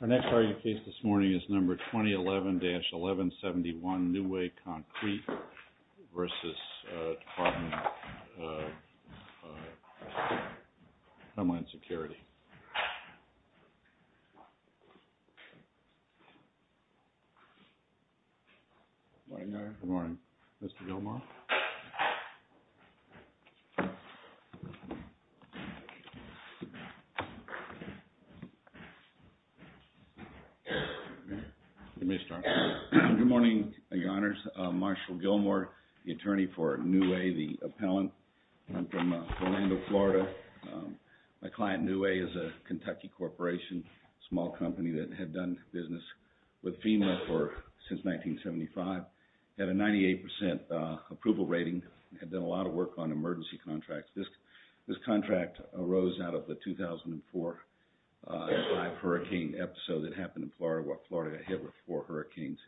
Our next argument case this morning is number 2011-1171, NU-WAY CONCRETE v. Department of Homeland Security. We're going to start with Mr. Gilmour, the attorney for NU-WAY, the appellant from Orlando, Florida. My client, NU-WAY, is a Kentucky corporation, a small company that had done business with FEMA since 1975, had a 98% approval rating, had done a lot of work on emergency contracts. This contract arose out of the 2004-05 hurricane episode that happened in Florida, where Florida hit with four hurricanes.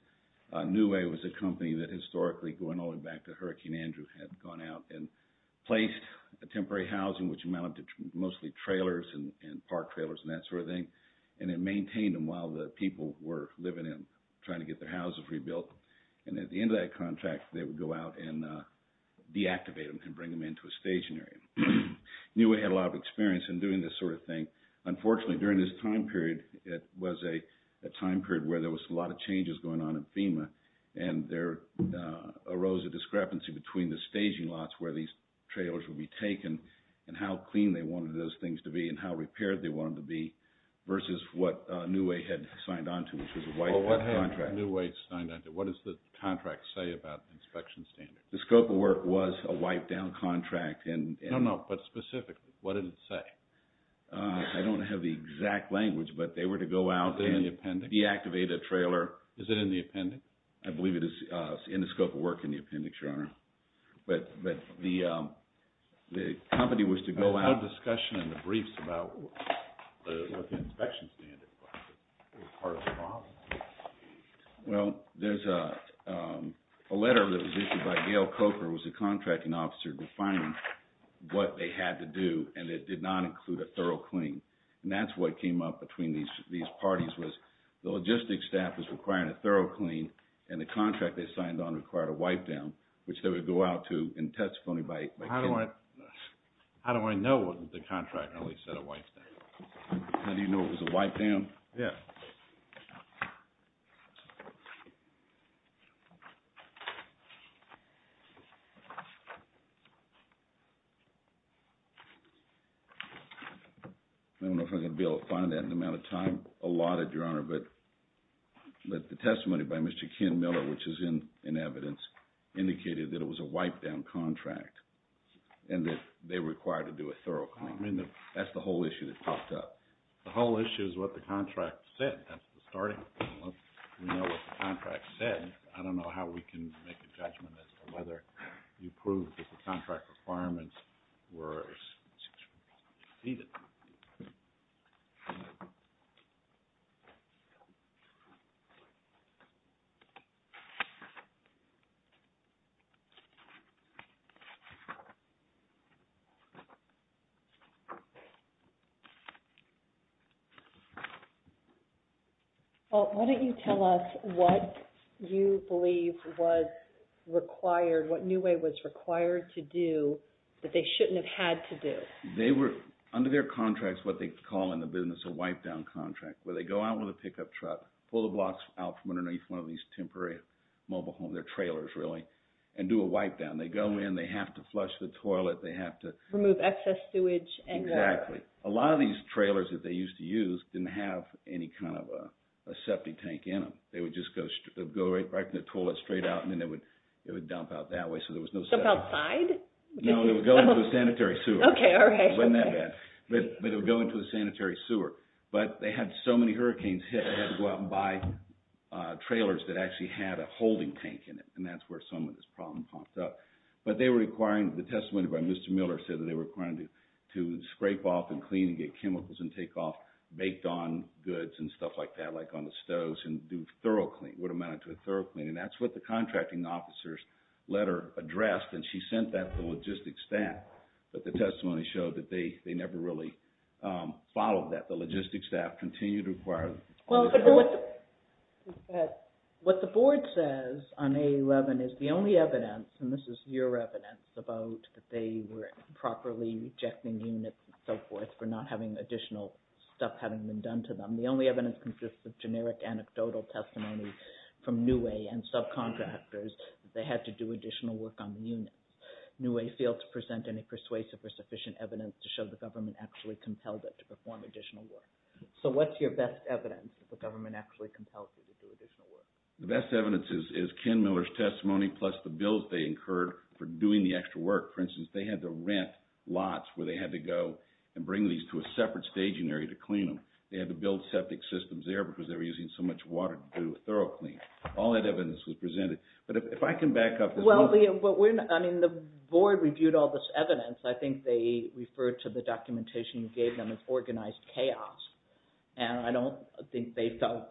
NU-WAY was a company that historically, going all the way back to Hurricane Andrew, had gone out and placed temporary housing, which amounted to mostly trailers and park trailers and that sort of thing, and it maintained them while the people were living in, trying to get their houses rebuilt. And at the end of that contract, they would go out and deactivate them and bring them into a station area. NU-WAY had a lot of experience in doing this sort of thing. Unfortunately, during this time period, it was a time period where there was a lot of trailers would be taken, and how clean they wanted those things to be, and how repaired they wanted them to be, versus what NU-WAY had signed on to, which was a wipe-down contract. Well, what had NU-WAY signed on to? What does the contract say about the inspection standard? The scope of work was a wipe-down contract. No, no, but specifically, what did it say? I don't have the exact language, but they were to go out and deactivate a trailer. Is it in the appendix? I believe it is in the scope of work in the appendix, Your Honor. But the company was to go out... I had a discussion in the briefs about what the inspection standard was part of the process. Well, there's a letter that was issued by Gail Coker, who was the contracting officer, defining what they had to do, and it did not include a thorough clean. And that's what came up between these parties, was the logistics staff was requiring a thorough clean, and the contract they signed on required a wipe-down, which they would go out to and testify by... How do I know what the contract really said, a wipe-down? How do you know it was a wipe-down? Yeah. I don't know if I'm going to be able to find that in the amount of time allotted, Your The letter that was issued by Mr. Ken Miller, which is in evidence, indicated that it was a wipe-down contract, and that they were required to do a thorough clean. I mean, that's the whole issue that popped up. The whole issue is what the contract said, that's the starting point. We know what the contract said. I don't know how we can make a judgment as to whether you proved that the contract requirements were exceeded. Well, why don't you tell us what you believe was required, what NUA was required to do that they shouldn't have had to do? Well, under their contracts, what they call in the business a wipe-down contract, where they go out with a pickup truck, pull the blocks out from underneath one of these temporary mobile homes, they're trailers, really, and do a wipe-down. They go in, they have to flush the toilet, they have to... Remove excess sewage and water. Exactly. A lot of these trailers that they used to use didn't have any kind of a septic tank in them. They would just go right from the toilet straight out, and then they would dump out that way, so there was no septic tank. Dump outside? No, they would go into a sanitary sewer. Okay, all right. It wasn't that bad. But they would go into a sanitary sewer. But they had so many hurricanes hit, they had to go out and buy trailers that actually had a holding tank in it, and that's where some of this problem popped up. But they were requiring, the testimony by Mr. Miller said that they were requiring to scrape off and clean and get chemicals and take off baked-on goods and stuff like that, like on the stoves, and do thorough cleaning, what amounted to a thorough cleaning. That's what the contracting officer's letter addressed, and she sent that to the logistics staff. But the testimony showed that they never really followed that. The logistics staff continued to require... What the board says on A11 is the only evidence, and this is your evidence, about that they were improperly rejecting units and so forth for not having additional stuff having been done to them. The only evidence consists of generic anecdotal testimony from Newey and subcontractors that they had to do additional work on the units. Newey failed to present any persuasive or sufficient evidence to show the government actually compelled it to perform additional work. So what's your best evidence that the government actually compelled you to do additional work? The best evidence is Ken Miller's testimony plus the bills they incurred for doing the extra work. For instance, they had to rent lots where they had to go and bring these to a separate staging area to clean them. They had to build septic systems there because they were using so much water to do a thorough cleaning. All that evidence was presented. But if I can back up... Well, but we're not... I mean, the board reviewed all this evidence. I think they referred to the documentation you gave them as organized chaos, and I don't think they felt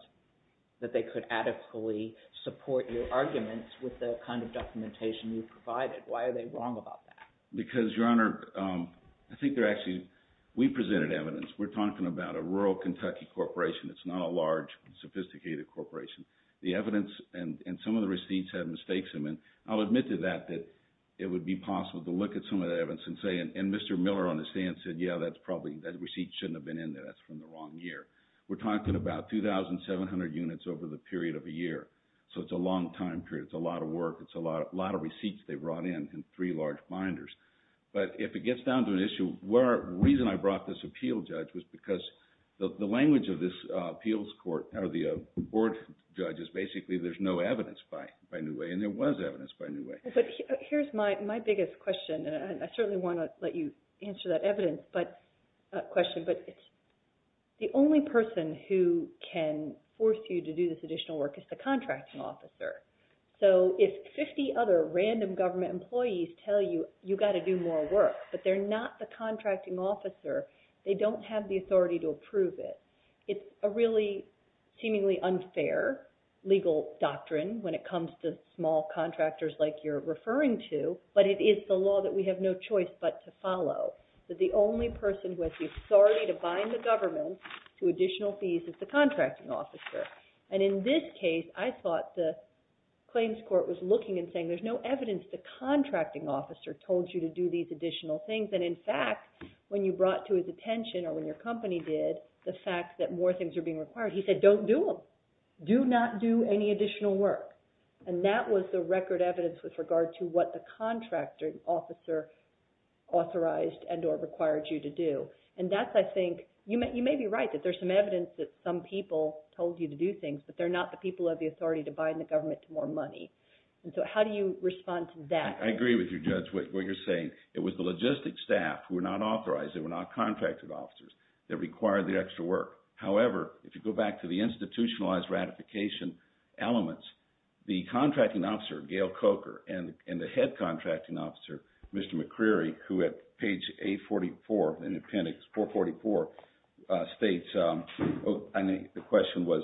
that they could adequately support your arguments with the kind of documentation you provided. Why are they wrong about that? Because, Your Honor, I think they're actually... We presented evidence. We're talking about a rural Kentucky corporation. It's not a large, sophisticated corporation. The evidence and some of the receipts had mistakes in them. I'll admit to that, that it would be possible to look at some of the evidence and say... And Mr. Miller on the stand said, yeah, that's probably... That receipt shouldn't have been in there. That's from the wrong year. We're talking about 2,700 units over the period of a year. So it's a long time period. It's a lot of work. It's a lot of receipts they brought in in three large binders. But if it gets down to an issue, the reason I brought this appeal, Judge, was because the language of this appeals court, or the board judge, is basically there's no evidence by new way. And there was evidence by new way. But here's my biggest question, and I certainly want to let you answer that question, but the only person who can force you to do this additional work is the contracting officer. So if 50 other random government employees tell you, you got to do more work, but they're not the contracting officer, they don't have the authority to approve it. It's a really seemingly unfair legal doctrine when it comes to small contractors like you're referring to, but it is the law that we have no choice but to follow, that the only person who has the authority to bind the government to additional fees is the contracting officer. And in this case, I thought the claims court was looking and saying, there's no evidence that the contracting officer told you to do these additional things, and in fact, when you brought to his attention, or when your company did, the fact that more things are being required, he said, don't do them. Do not do any additional work. And that was the record evidence with regard to what the contracting officer authorized and or required you to do. And that's, I think, you may be right that there's some evidence that some people told you to do things, but they're not the people who have the authority to bind the government to more money. And so how do you respond to that? I agree with you, Judge, what you're saying. It was the logistic staff who were not authorized, they were not contracted officers, that required the extra work. However, if you go back to the institutionalized ratification elements, the contracting officer, Gail Coker, and the head contracting officer, Mr. McCreary, who at page 844 in appendix 444 states, the question was,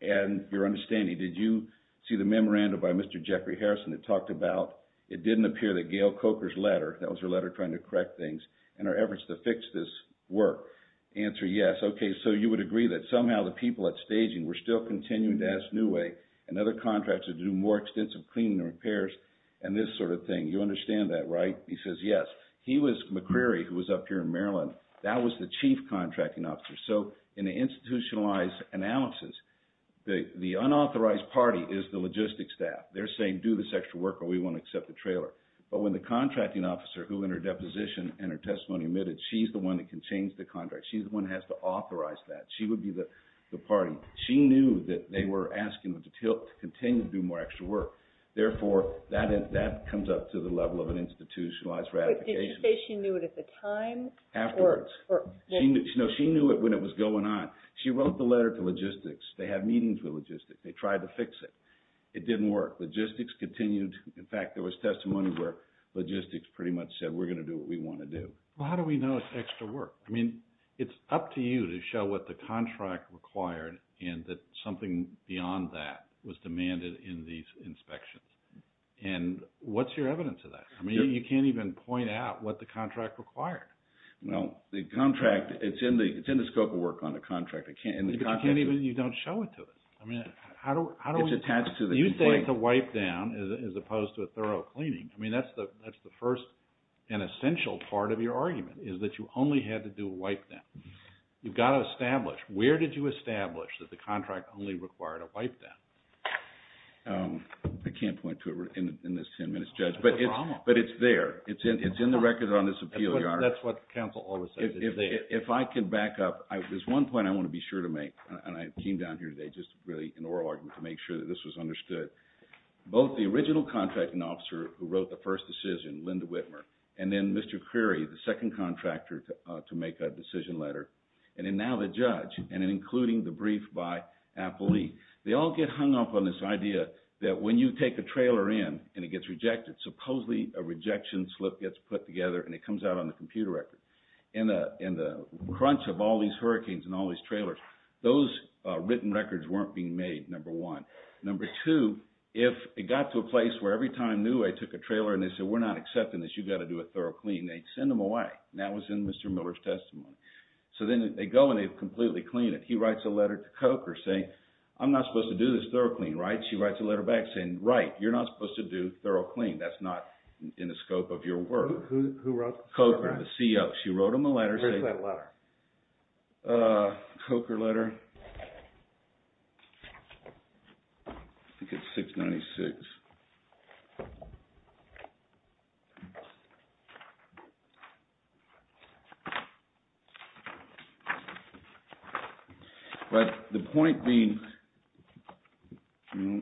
in your understanding, did you see the memorandum by Mr. Jeffrey Harrison that talked about, it didn't appear that Gail Coker's letter, that was her letter trying to correct things, in her efforts to fix this work, answer yes, okay, so you would agree that somehow the people at staging were still continuing to ask Newey and other contractors to do more extensive cleaning and repairs and this sort of thing, you understand that, right? He says yes. He was, McCreary, who was up here in Maryland, that was the chief contracting officer. So in an institutionalized analysis, the unauthorized party is the logistic staff. They're saying do this extra work or we won't accept the trailer. But when the contracting officer, who in her deposition and her testimony admitted she's the one that can change the contract, she's the one that has to authorize that, she would be the party. She knew that they were asking them to continue to do more extra work. Therefore, that comes up to the level of an institutionalized ratification. But did she say she knew it at the time? Afterwards. No, she knew it when it was going on. She wrote the letter to logistics, they have meetings with logistics, they tried to fix it. It didn't work. Logistics continued. In fact, there was testimony where logistics pretty much said we're going to do what we want to do. Well, how do we know it's extra work? I mean, it's up to you to show what the contract required and that something beyond that was demanded in these inspections. And what's your evidence of that? I mean, you can't even point out what the contract required. Well, the contract, it's in the scope of work on the contract. You can't even, you don't show it to us. I mean, how do we... It's attached to the complaint. You say it's a wipe down as opposed to a thorough cleaning. I mean, that's the first and essential part of your argument, is that you only had to do a wipe down. You've got to establish, where did you establish that the contract only required a wipe down? I can't point to it in this 10 minutes, Judge. But it's there. It's in the record on this appeal, Your Honor. That's what counsel always says. It's there. If I can back up, there's one point I want to be sure to make, and I came down here today just really in oral argument to make sure that this was understood. Both the original contracting officer who wrote the first decision, Linda Whitmer, and then Mr. Creary, the second contractor to make a decision letter, and then now the judge, and then including the brief by appellee, they all get hung up on this idea that when you take a trailer in and it gets rejected, supposedly a rejection slip gets put together and it comes out on the computer record. In the crunch of all these hurricanes and all these trailers, those written records weren't being made, number one. Number two, if it got to a place where every time Newey took a trailer and they said, we're not accepting this, you've got to do a thorough clean, they'd send them away. That was in Mr. Miller's testimony. So then they go and they completely clean it. He writes a letter to Coker saying, I'm not supposed to do this thorough clean, right? She writes a letter back saying, right, you're not supposed to do thorough clean. That's not in the scope of your work. Who wrote the letter? Coker, the CO. She wrote him a letter. Where's that letter? Coker letter. I think it's 696. But the point being, the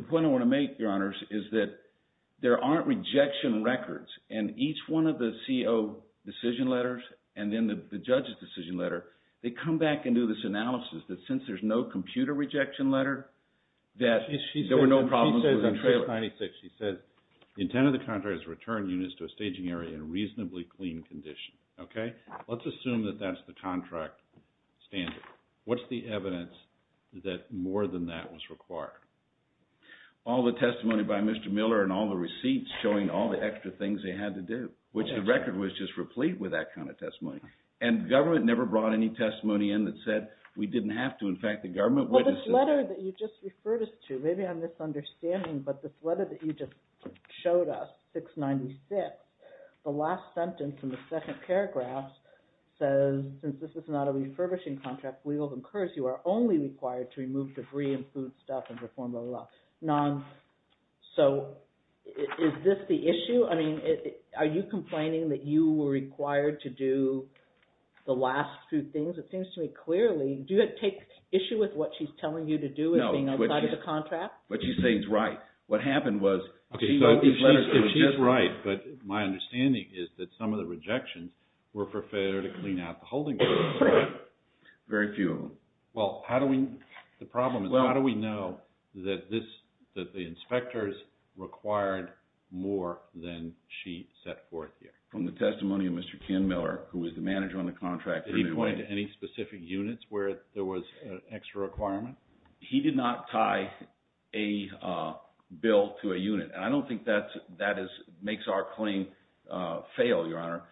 point I want to make, Your Honors, is that there aren't rejection records and each one of the CO decision letters and then the judge's decision letter, they come back and do this analysis that since there's no computer rejection letter, that there were no problems with the trailer. She says on 696, she says, the intent of the contract is to return units to a staging area in reasonably clean condition. Okay? Let's assume that that's the contract standard. What's the evidence that more than that was required? All the testimony by Mr. Miller and all the receipts showing all the extra things they had to do, which the record was just replete with that kind of testimony. And the government never brought any testimony in that said we didn't have to. In fact, the government... Well, this letter that you just referred us to, maybe I'm misunderstanding, but this letter that you just showed us, 696, the last sentence in the second paragraph says, since this is not a refurbishing contract, we will encourage you are only required to remove debris and food stuff in the form of a non... So, is this the issue? I mean, are you complaining that you were required to do the last two things? It seems to me clearly... Do you take issue with what she's telling you to do as being outside of the contract? No. What she's saying is right. What happened was... Okay, so she's right, but my understanding is that some of the rejections were for failure to clean out the holding room. Very few of them. Well, how do we... From the testimony of Mr. Ken Miller, who was the manager on the contract... Did he point to any specific units where there was an extra requirement? He did not tie a bill to a unit, and I don't think that makes our claim fail, Your Honor.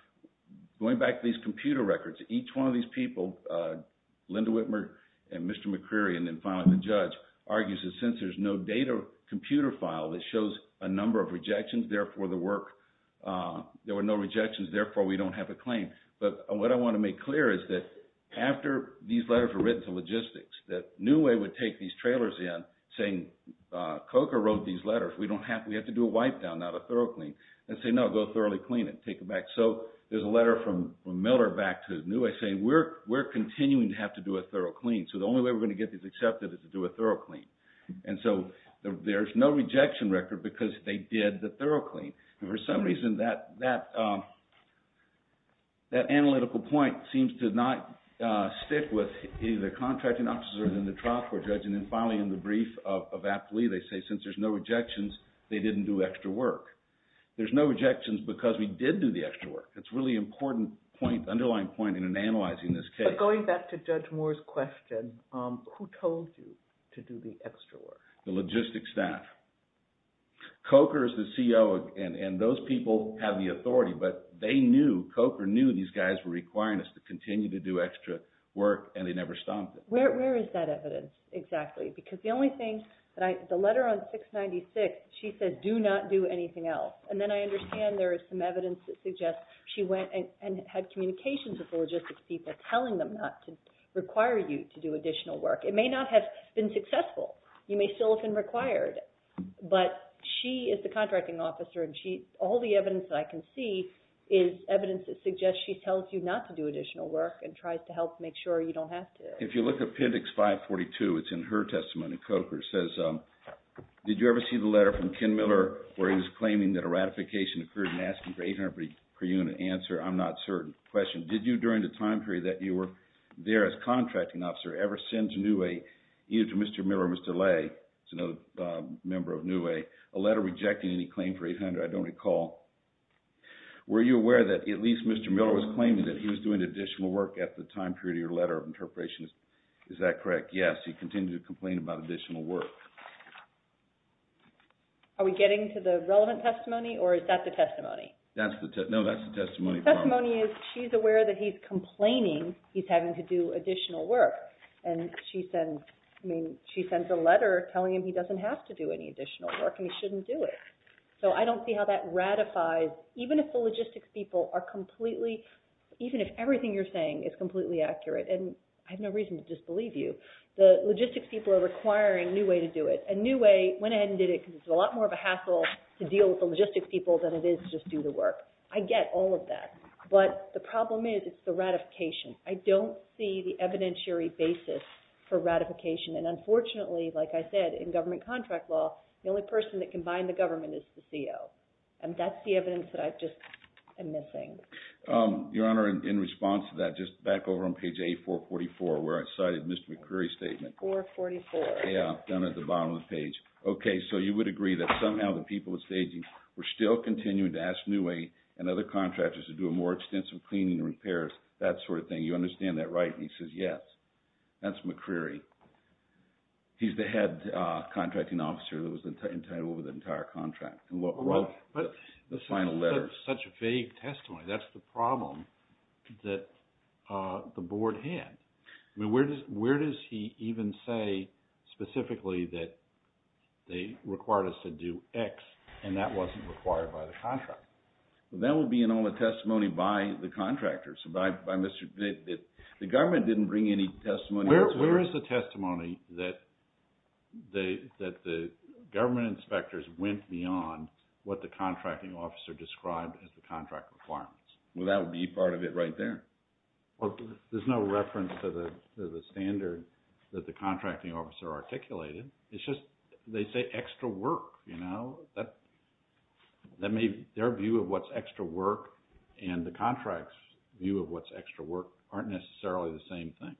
Going back to these computer records, each one of these people, Linda Whitmer and Mr. McCreary, and then finally the judge, argues that since there's no data computer file that was required for the work, there were no rejections, therefore we don't have a claim. But what I want to make clear is that after these letters were written to logistics, that Newey would take these trailers in saying, COCA wrote these letters. We have to do a wipe down, not a thorough clean, and say, no, go thoroughly clean it, take it back. So there's a letter from Miller back to Newey saying, we're continuing to have to do a thorough clean, so the only way we're going to get these accepted is to do a thorough clean. And so there's no rejection record because they did the thorough clean. And for some reason, that analytical point seems to not stick with either the contracting officer or the trial court judge. And then finally in the brief of Aptly, they say since there's no rejections, they didn't do extra work. There's no rejections because we did do the extra work. That's a really important point, underlying point in analyzing this case. But going back to Judge Moore's question, who told you to do the extra work? The logistics staff. COCA is the CEO, and those people have the authority. But they knew, COCA knew these guys were requiring us to continue to do extra work, and they never stopped it. Where is that evidence exactly? Because the only thing, the letter on 696, she said, do not do anything else. And then I understand there is some evidence that suggests she went and had communications with the logistics people telling them not to require you to do additional work. It may not have been successful. You may still have been required. But she is the contracting officer, and all the evidence that I can see is evidence that suggests she tells you not to do additional work and tries to help make sure you don't have to. If you look at Appendix 542, it's in her testimony. COCA says, did you ever see the letter from Ken Miller where he was claiming that a ratification occurred and asking for 800 per unit answer? I'm not certain. Question, did you during the time period that you were there as contracting officer ever send to NUA, either to Mr. Miller or Mr. Lay, another member of NUA, a letter rejecting any claim for 800? I don't recall. Were you aware that at least Mr. Miller was claiming that he was doing additional work at the time period of your letter of interpretation? Is that correct? Yes, he continued to complain about additional work. Are we getting to the relevant testimony, or is that the testimony? No, that's the testimony. The testimony is she's aware that he's complaining he's having to do additional work. And she sends a letter telling him he doesn't have to do any additional work and he shouldn't do it. So I don't see how that ratifies, even if the logistics people are completely, even if everything you're saying is completely accurate, and I have no reason to disbelieve you, the logistics people are requiring NUA to do it. And NUA went ahead and did it because it's a lot more of a hassle to deal with the logistics people than it is just do the work. I get all of that. But the problem is it's the ratification. I don't see the evidentiary basis for ratification. And unfortunately, like I said, in government contract law, the only person that can bind the government is the CO. And that's the evidence that I just am missing. Your Honor, in response to that, just back over on page A444, where I cited Mr. McCreary's statement. 444. Yeah, down at the bottom of the page. Okay, so you would agree that somehow the people at Staging were still continuing to ask NUA and other contractors to do a more extensive cleaning and repairs, that sort of thing. You understand that, right? And he says, yes. That's McCreary. He's the head contracting officer that was entitled over the entire contract and wrote the final letter. But that's such a vague testimony. That's the problem that the Board had. Where does he even say specifically that they required us to do X and that wasn't required by the contract? That would be in all the testimony by the contractors. The government didn't bring any testimony. Where is the testimony that the government inspectors went beyond what the contracting officer described as the contract requirements? Well, that would be part of it right there. Well, there's no reference to the standard that the contracting officer articulated. It's just they say extra work, you know. Their view of what's extra work and the contract's view of what's extra work aren't necessarily the same thing.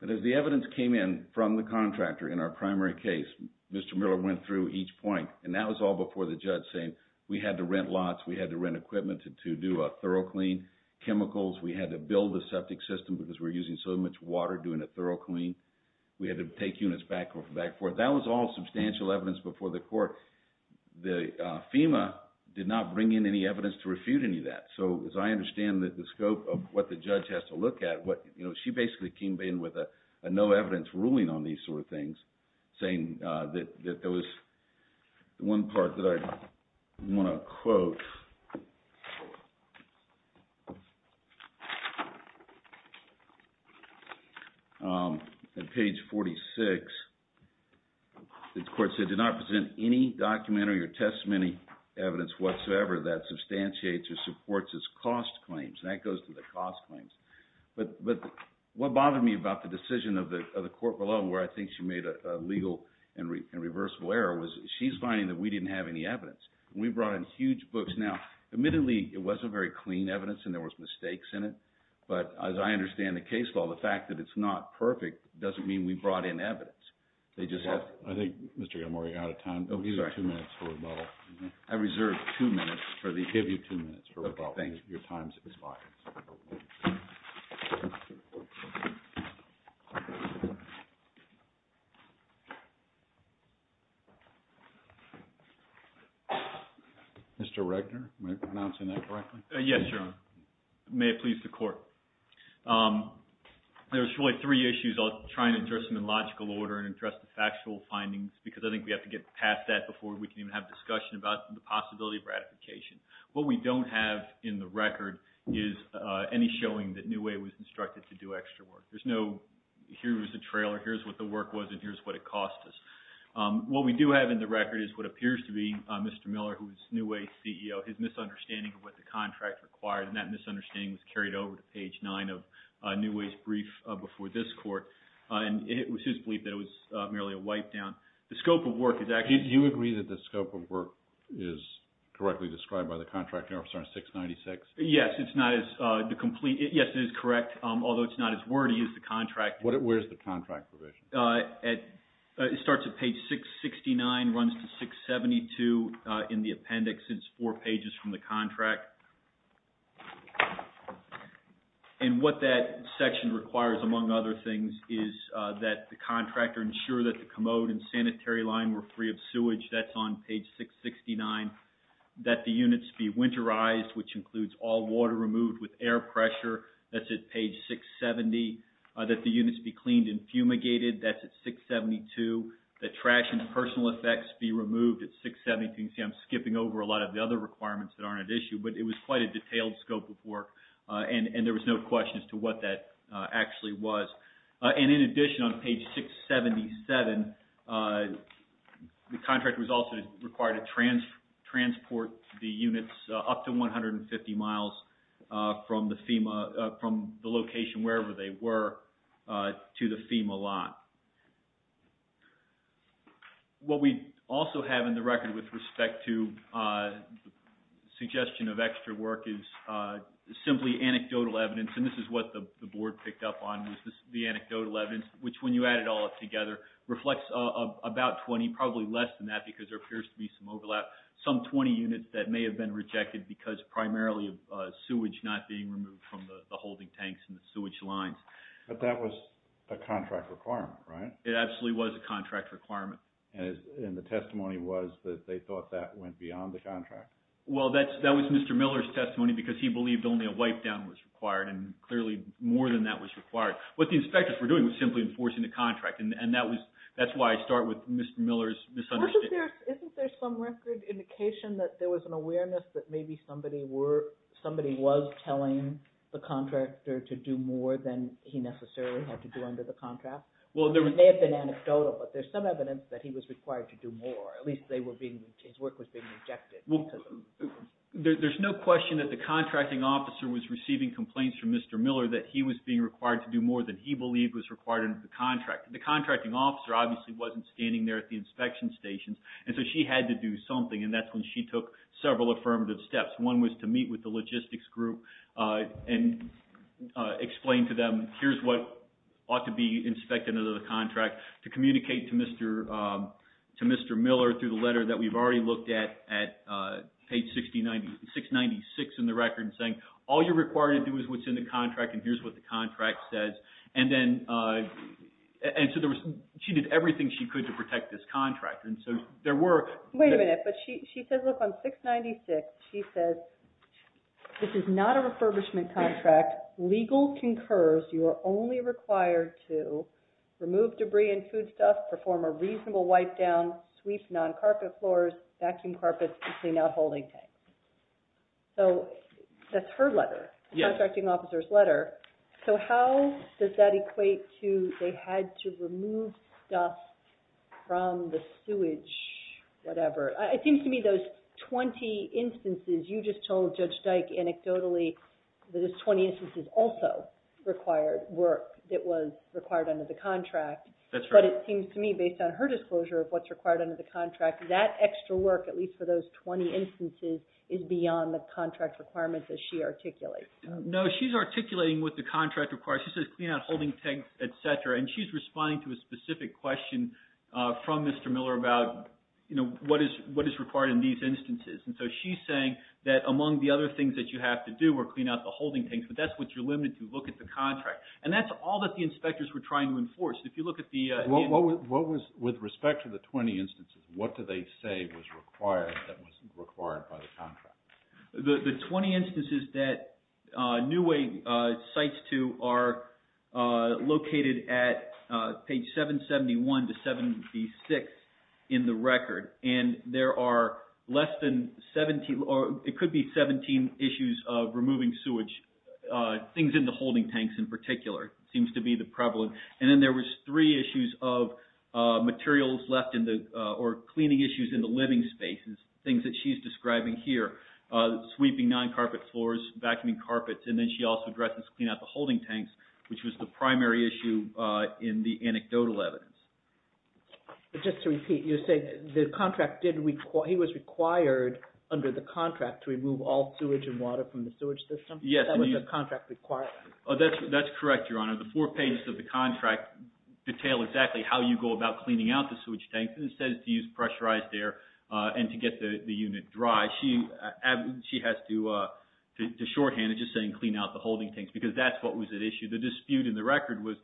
But as the evidence came in from the contractor in our primary case, Mr. Miller went through each point and that was all before the judge saying we had to rent lots, we had to rent equipment to do a thorough clean, chemicals, we had to build the septic system because we're using so much water doing a thorough clean. We had to take units back and forth. That was all substantial evidence before the court. FEMA did not bring in any evidence to refute any of that. So as I understand the scope of what the judge has to look at, she basically came in with a no evidence ruling on these sort of things saying that there was one part that I want to quote at page 46. The court said, did not present any documentary or testimony evidence whatsoever that substantiates or supports its cost claims. And that goes to the cost claims. But what bothered me about the decision of the court below where I think she made a legal and reversible error was she's finding that we didn't have any evidence. We brought in huge books. Now, admittedly, it wasn't very clean evidence and there was mistakes in it. But as I understand the case law, the fact that it's not perfect doesn't mean we brought in evidence. I think Mr. Gilmour, you're out of time. Oh, he's got two minutes for rebuttal. I reserve two minutes for the... I give you two minutes for rebuttal. Thank you. Your time is expired. Mr. Regner, am I pronouncing that correctly? Yes, Your Honor. May it please the court. There's really three issues. I'll try and address them in logical order and address the factual findings because I think we have to get past that before we can even have discussion about the possibility of ratification. What we don't have in the record is any showing that Newey was instructed to do extra work. There's no, here's the trailer, here's what the work was, and here's what it cost us. What we do have in the record is what appears to be Mr. Miller, who was Newey's CEO, his misunderstanding of what the contract required, and that misunderstanding was carried over to page nine of Newey's brief before this court. It was his belief that it was merely a wipe-down. The scope of work is actually... Do you agree that the scope of work is correctly described by the contracting officer on 696? Yes, it's not as complete. Yes, it is correct, although it's not as wordy as the contract. Where's the contract provision? It starts at page 669, runs to 672 in the appendix. It's four pages from the contract. And what that section requires, among other things, is that the contractor ensure that the commode and sanitary line were free of sewage. That's on page 669. That the units be winterized, which includes all water removed with air pressure. That's at page 670. That the units be cleaned and fumigated. That's at 672. That trash and personal effects be removed at 672. You can see I'm skipping over a lot of the other requirements that aren't at issue, but it was quite a detailed scope of work, and there was no question as to what that actually was. And in addition, on page 677, the contractor was also required to transport the units up to 150 miles from the FEMA, from the location wherever they were, to the FEMA lot. What we also have in the record with respect to the suggestion of extra work is simply anecdotal evidence, and this is what the board picked up on, is the anecdotal evidence, which when you add it all up together, reflects about 20, probably less than that because there appears to be some overlap, some 20 units that may have been rejected because primarily sewage not being removed from the holding tanks and the sewage lines. But that was a contract requirement, right? It absolutely was a contract requirement. And the testimony was that they thought that went beyond the contract? Well, that was Mr. Miller's testimony because he believed only a wipe-down was required, and clearly more than that was required. What the inspectors were doing was simply enforcing the contract, and that's why I start with Mr. Miller's misunderstanding. Isn't there some record indication that there was an awareness that maybe somebody was telling the contractor to do more than he necessarily had to do under the contract? It may have been anecdotal, but there's some evidence that he was required to do more. At least his work was being rejected. There's no question that the contracting officer was receiving complaints from Mr. Miller that he was being required to do more than he believed was required under the contract. The contracting officer obviously wasn't standing there at the inspection stations, and so she had to do something, and that's when she took several affirmative steps. One was to meet with the logistics group and explain to them, here's what ought to be inspected under the contract, to communicate to Mr. Miller through the letter that we've already looked at, at page 696 in the record, saying, all you're required to do is what's in the contract, and here's what the contract says. She did everything she could to protect this contract. Wait a minute. She says, look, on 696, she says, this is not a refurbishment contract. Legal concurs you are only required to remove debris and food stuff, perform a reasonable wipe down, sweep non-carpet floors, vacuum carpets, and clean out holding tanks. So that's her letter, the contracting officer's letter. So how does that equate to they had to remove stuff from the sewage, whatever? It seems to me those 20 instances, you just told Judge Dyke anecdotally that those 20 instances also required work that was required under the contract. But it seems to me, based on her disclosure of what's required under the contract, that extra work, at least for those 20 instances, is beyond the contract requirements as she articulates. No, she's articulating what the contract requires. She says clean out holding tanks, etc., and she's responding to a specific question from Mr. Miller about what is required in these instances. And so she's saying that among the other things that you have to do were clean out the holding tanks, but that's what you're limited to. Look at the contract. And that's all that the inspectors were trying to enforce. If you look at the... What was, with respect to the 20 instances, what do they say was required that wasn't required by the contract? The 20 instances that New Way cites to are located at page 771 to 76 in the record. And there are less than 17, or it could be 17 issues of removing sewage. Things in the holding tanks in particular seems to be the prevalent. And then there was three issues of cleaning issues in the living spaces, things that she's describing here. Sweeping non-carpet floors, vacuuming carpets, and then she also addresses clean out the holding tanks, which was the primary issue in the anecdotal evidence. Just to repeat, you're saying the contract did... He was required under the contract to remove all sewage and water from the sewage system? Yes. That was the contract requirement? That's correct, Your Honor. The four pages of the contract detail exactly how you go about cleaning out the sewage tanks. And it says to use pressurized air and to get the unit dry. She has to shorthand it, just saying clean out the holding tanks, because that's what was at issue. The dispute in the record was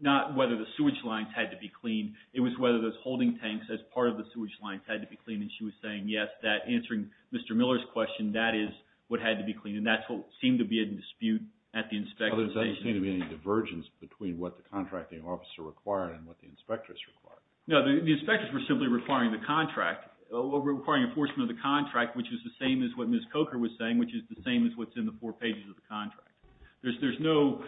not whether the sewage lines had to be clean. It was whether those holding tanks as part of the sewage lines had to be clean. And she was saying, yes, that answering Mr. Miller's question, that is what had to be clean. And that seemed to be a dispute at the inspection station. Other than that, there didn't seem to be any divergence between what the contracting officer required and what the inspectors required. No, the inspectors were simply requiring the contract, requiring enforcement of the contract which is the same as what Ms. Coker was saying, which is the same as what's in the four pages of the contract. There's no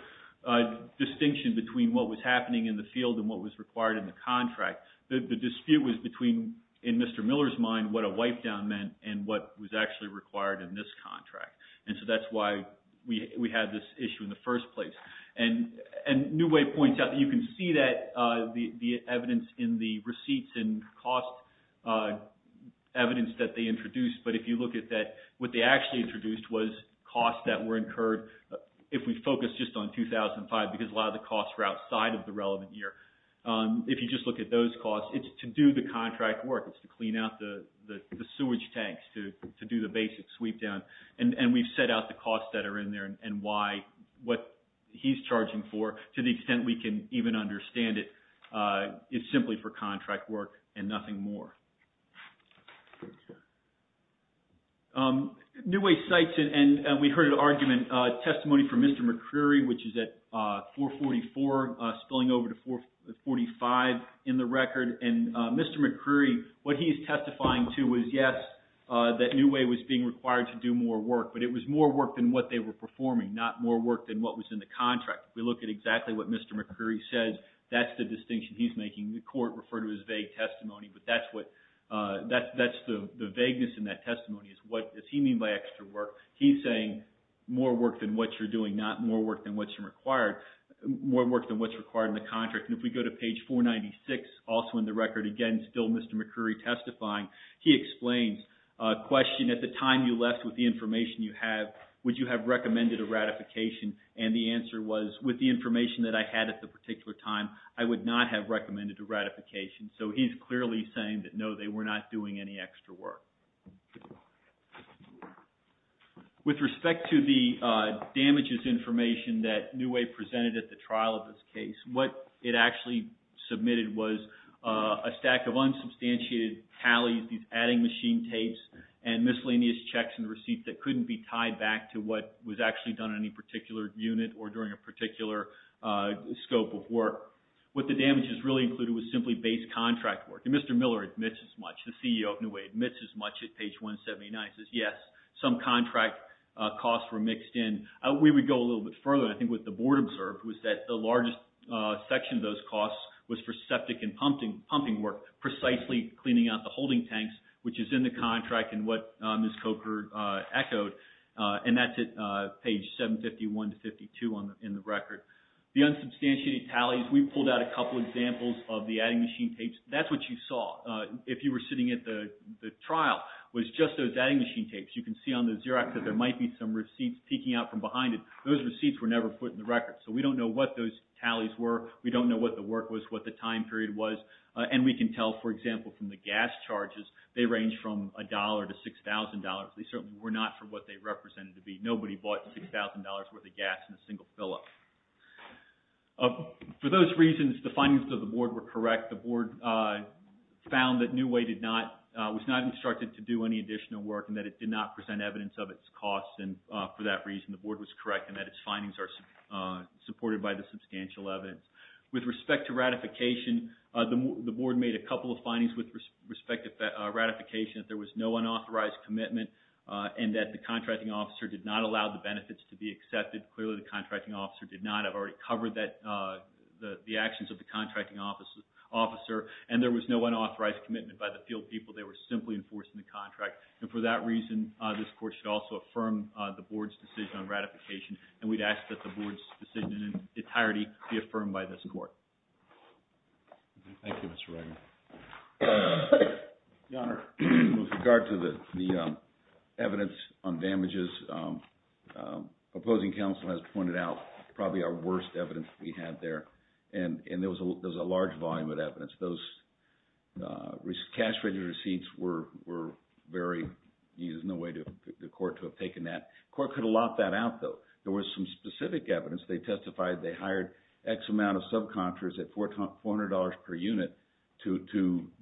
distinction between what was happening in the field and what was required in the contract. The dispute was between in Mr. Miller's mind what a wipe down meant and what was actually required in this contract. And so that's why we had this issue in the first place. And New Way points out that you can see that the evidence in the receipts and cost evidence that they introduced. But if you look at that, what they actually introduced was costs that were incurred, if we focus just on 2005, because a lot of the costs were outside of the relevant year. If you just look at those costs, it's to do the contract work. It's to clean out the sewage tanks, to do the basic sweep down. And we've set out the what he's charging for to the extent we can even understand it. It's simply for contract work and nothing more. New Way cites, and we heard an argument, testimony from Mr. McCreary, which is at 444, spilling over to 445 in the record. And Mr. McCreary, what he's testifying to was yes, that New Way was being required to do more work. But it was more work than what they were performing, not more work than what was in the contract. If we look at exactly what Mr. McCreary says, that's the distinction he's making. The court referred to his vague testimony, but that's the vagueness in that testimony. What does he mean by extra work? He's saying more work than what you're doing, not more work than what's required. More work than what's required in the contract. And if we go to page 496, also in the record, again, still Mr. McCreary testifying. He explains a question, at the time you submitted the information you have, would you have recommended a ratification? And the answer was, with the information that I had at the particular time, I would not have recommended a ratification. So he's clearly saying that no, they were not doing any extra work. With respect to the damages information that New Way presented at the trial of this case, what it actually submitted was a stack of unsubstantiated tallies, these adding machine tapes, and miscellaneous checks and receipts that couldn't be tied back to what was actually done in any particular unit or during a particular scope of work. What the damages really included was simply base contract work. And Mr. Miller admits as much, the CEO of New Way admits as much at page 179, says yes, some contract costs were mixed in. We would go a little bit further, and I think what the board observed was that the largest section of those costs was for septic and pumping work, precisely cleaning out the holding tanks, which is in the contract and what Ms. Coker echoed. And that's at page 751 to 552 in the record. The unsubstantiated tallies, we pulled out a couple examples of the adding machine tapes. That's what you saw. If you were sitting at the trial, it was just those adding machine tapes. You can see on the Xerox that there might be some receipts peeking out from behind it. Those receipts were never put in the record. So we don't know what those tallies were. We don't know what the work was, what the time period was. And we can tell, for example, from the gas charges, they range from $1 to $6,000. They certainly were not for what they represented to be. Nobody bought $6,000 worth of gas in a single fill-up. For those reasons, the findings of the board were correct. The board found that New Way was not instructed to do any additional work and that it did not present evidence of its costs. And for that reason, the board was correct in that its findings are supported by the substantial evidence. With respect to ratification, the board made a couple of findings with respect to ratification. There was no unauthorized commitment and that the contracting officer did not allow the benefits to be accepted. Clearly, the contracting officer did not. I've already covered the actions of the contracting officer. And there was no unauthorized commitment by the field people. They were simply enforcing the contract. And for that reason, this court should also affirm the board's decision on ratification. And we'd ask that the board's decision in entirety be affirmed by this court. Thank you, Mr. Reagan. With regard to the evidence on damages, opposing counsel has pointed out probably our worst evidence we had there. And there was a large volume of evidence. Those cash-registered receipts were very used. There's no way for the court to have taken that. The court could have locked that out, though. There was some specific evidence. They testified they hired X amount of subcontractors at $400 per unit to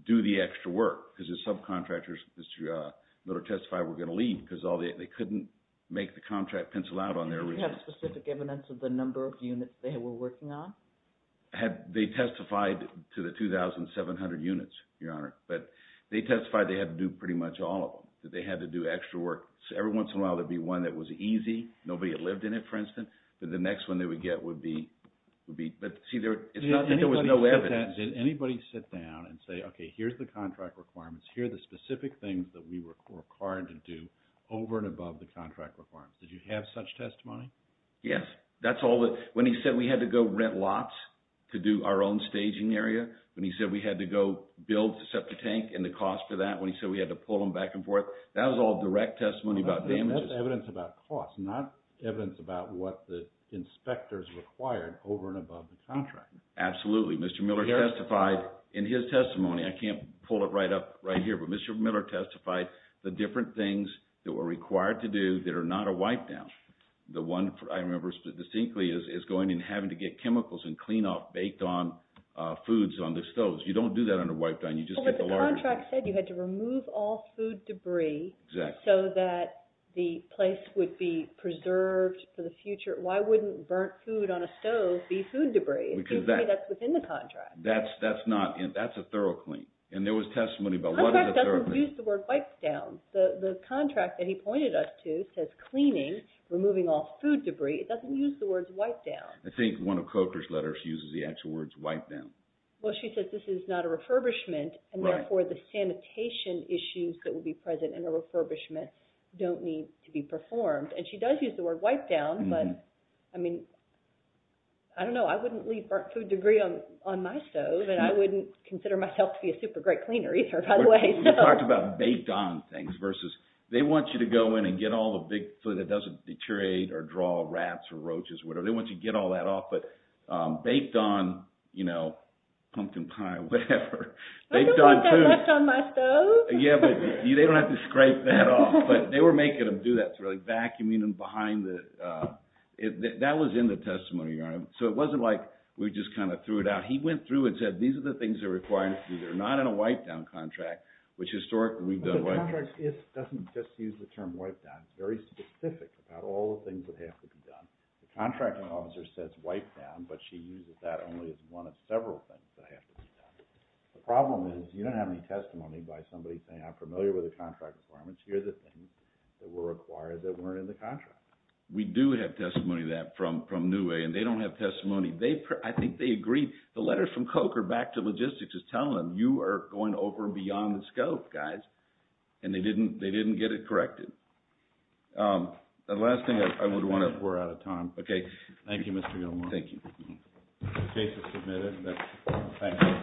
do the extra work. Because the subcontractors that are testified were going to leave because they couldn't make the contract pencil out on their receipts. Do you have specific evidence of the number of units they were working on? They testified to the 2,700 units, Your Honor. But they testified they had to do pretty much all of them. They had to do extra work. Every once in a while there'd be one that was easy. Nobody had lived in it, for instance. But the next one they would get would be... But see, there was no evidence. Did anybody sit down and say, okay, here's the contract requirements. Here are the specific things that we were required to do over and above the contract requirements. Did you have such testimony? Yes. When he said we had to go rent lots to do our own staging area, when he said we had to go build the septic tank and the cost for that, when he said we had to pull them back and forth, that was all direct testimony about damages. That's evidence about cost, not evidence about what the inspectors required over and above the contract. Absolutely. Mr. Miller testified in his testimony. I can't pull it right up right here, but Mr. Miller testified the different things that were required to do that are not a wipe-down. The one I remember distinctly is going and having to get chemicals and clean-off baked-on foods on the stoves. You don't do that under wipe-down. You just get the larger... Well, but the contract said you had to remove all food debris so that the place would be preserved for the future. Why wouldn't burnt food on a stove be food debris? It's usually that's within the contract. That's a thorough clean. And there was testimony about what is a thorough clean. The contract doesn't use the word wipe-down. The contract that he pointed us to says cleaning, removing all food debris. It doesn't use the words wipe-down. I think one of Coker's letters uses the actual words wipe-down. Well, she says this is not a sanitation issues that would be present in a refurbishment don't need to be performed. And she does use the word wipe-down, but I don't know. I wouldn't leave burnt food debris on my stove and I wouldn't consider myself to be a super great cleaner either, by the way. We talked about baked-on things versus they want you to go in and get all the big food that doesn't deteriorate or draw rats or roaches. They want you to get all that off. But baked-on, you know, pumpkin pie, whatever. I don't want that left on my stove. Yeah, but they don't have to scrape that off. But they were making them do that. That was in the testimony. So it wasn't like we just kind of threw it out. He went through and said these are the things that are required. These are not in a wipe-down contract, which historically we've done wipe-downs. The contract doesn't just use the term wipe-down. It's very specific about all the things that have to be done. The contracting officer says wipe-down, but she uses that only as one of several things that have to be done. The problem is you don't have any testimony by somebody saying I'm familiar with the contract requirements. Here are the things that were required that weren't in the contract. We do have testimony of that from Newey. And they don't have testimony. I think they agree. The letters from Koch are back to logistics just telling them you are going over beyond the scope, guys. And they didn't get it corrected. The last thing I would want to... We're out of time. Thank you, Mr. Gilmore. Thank you.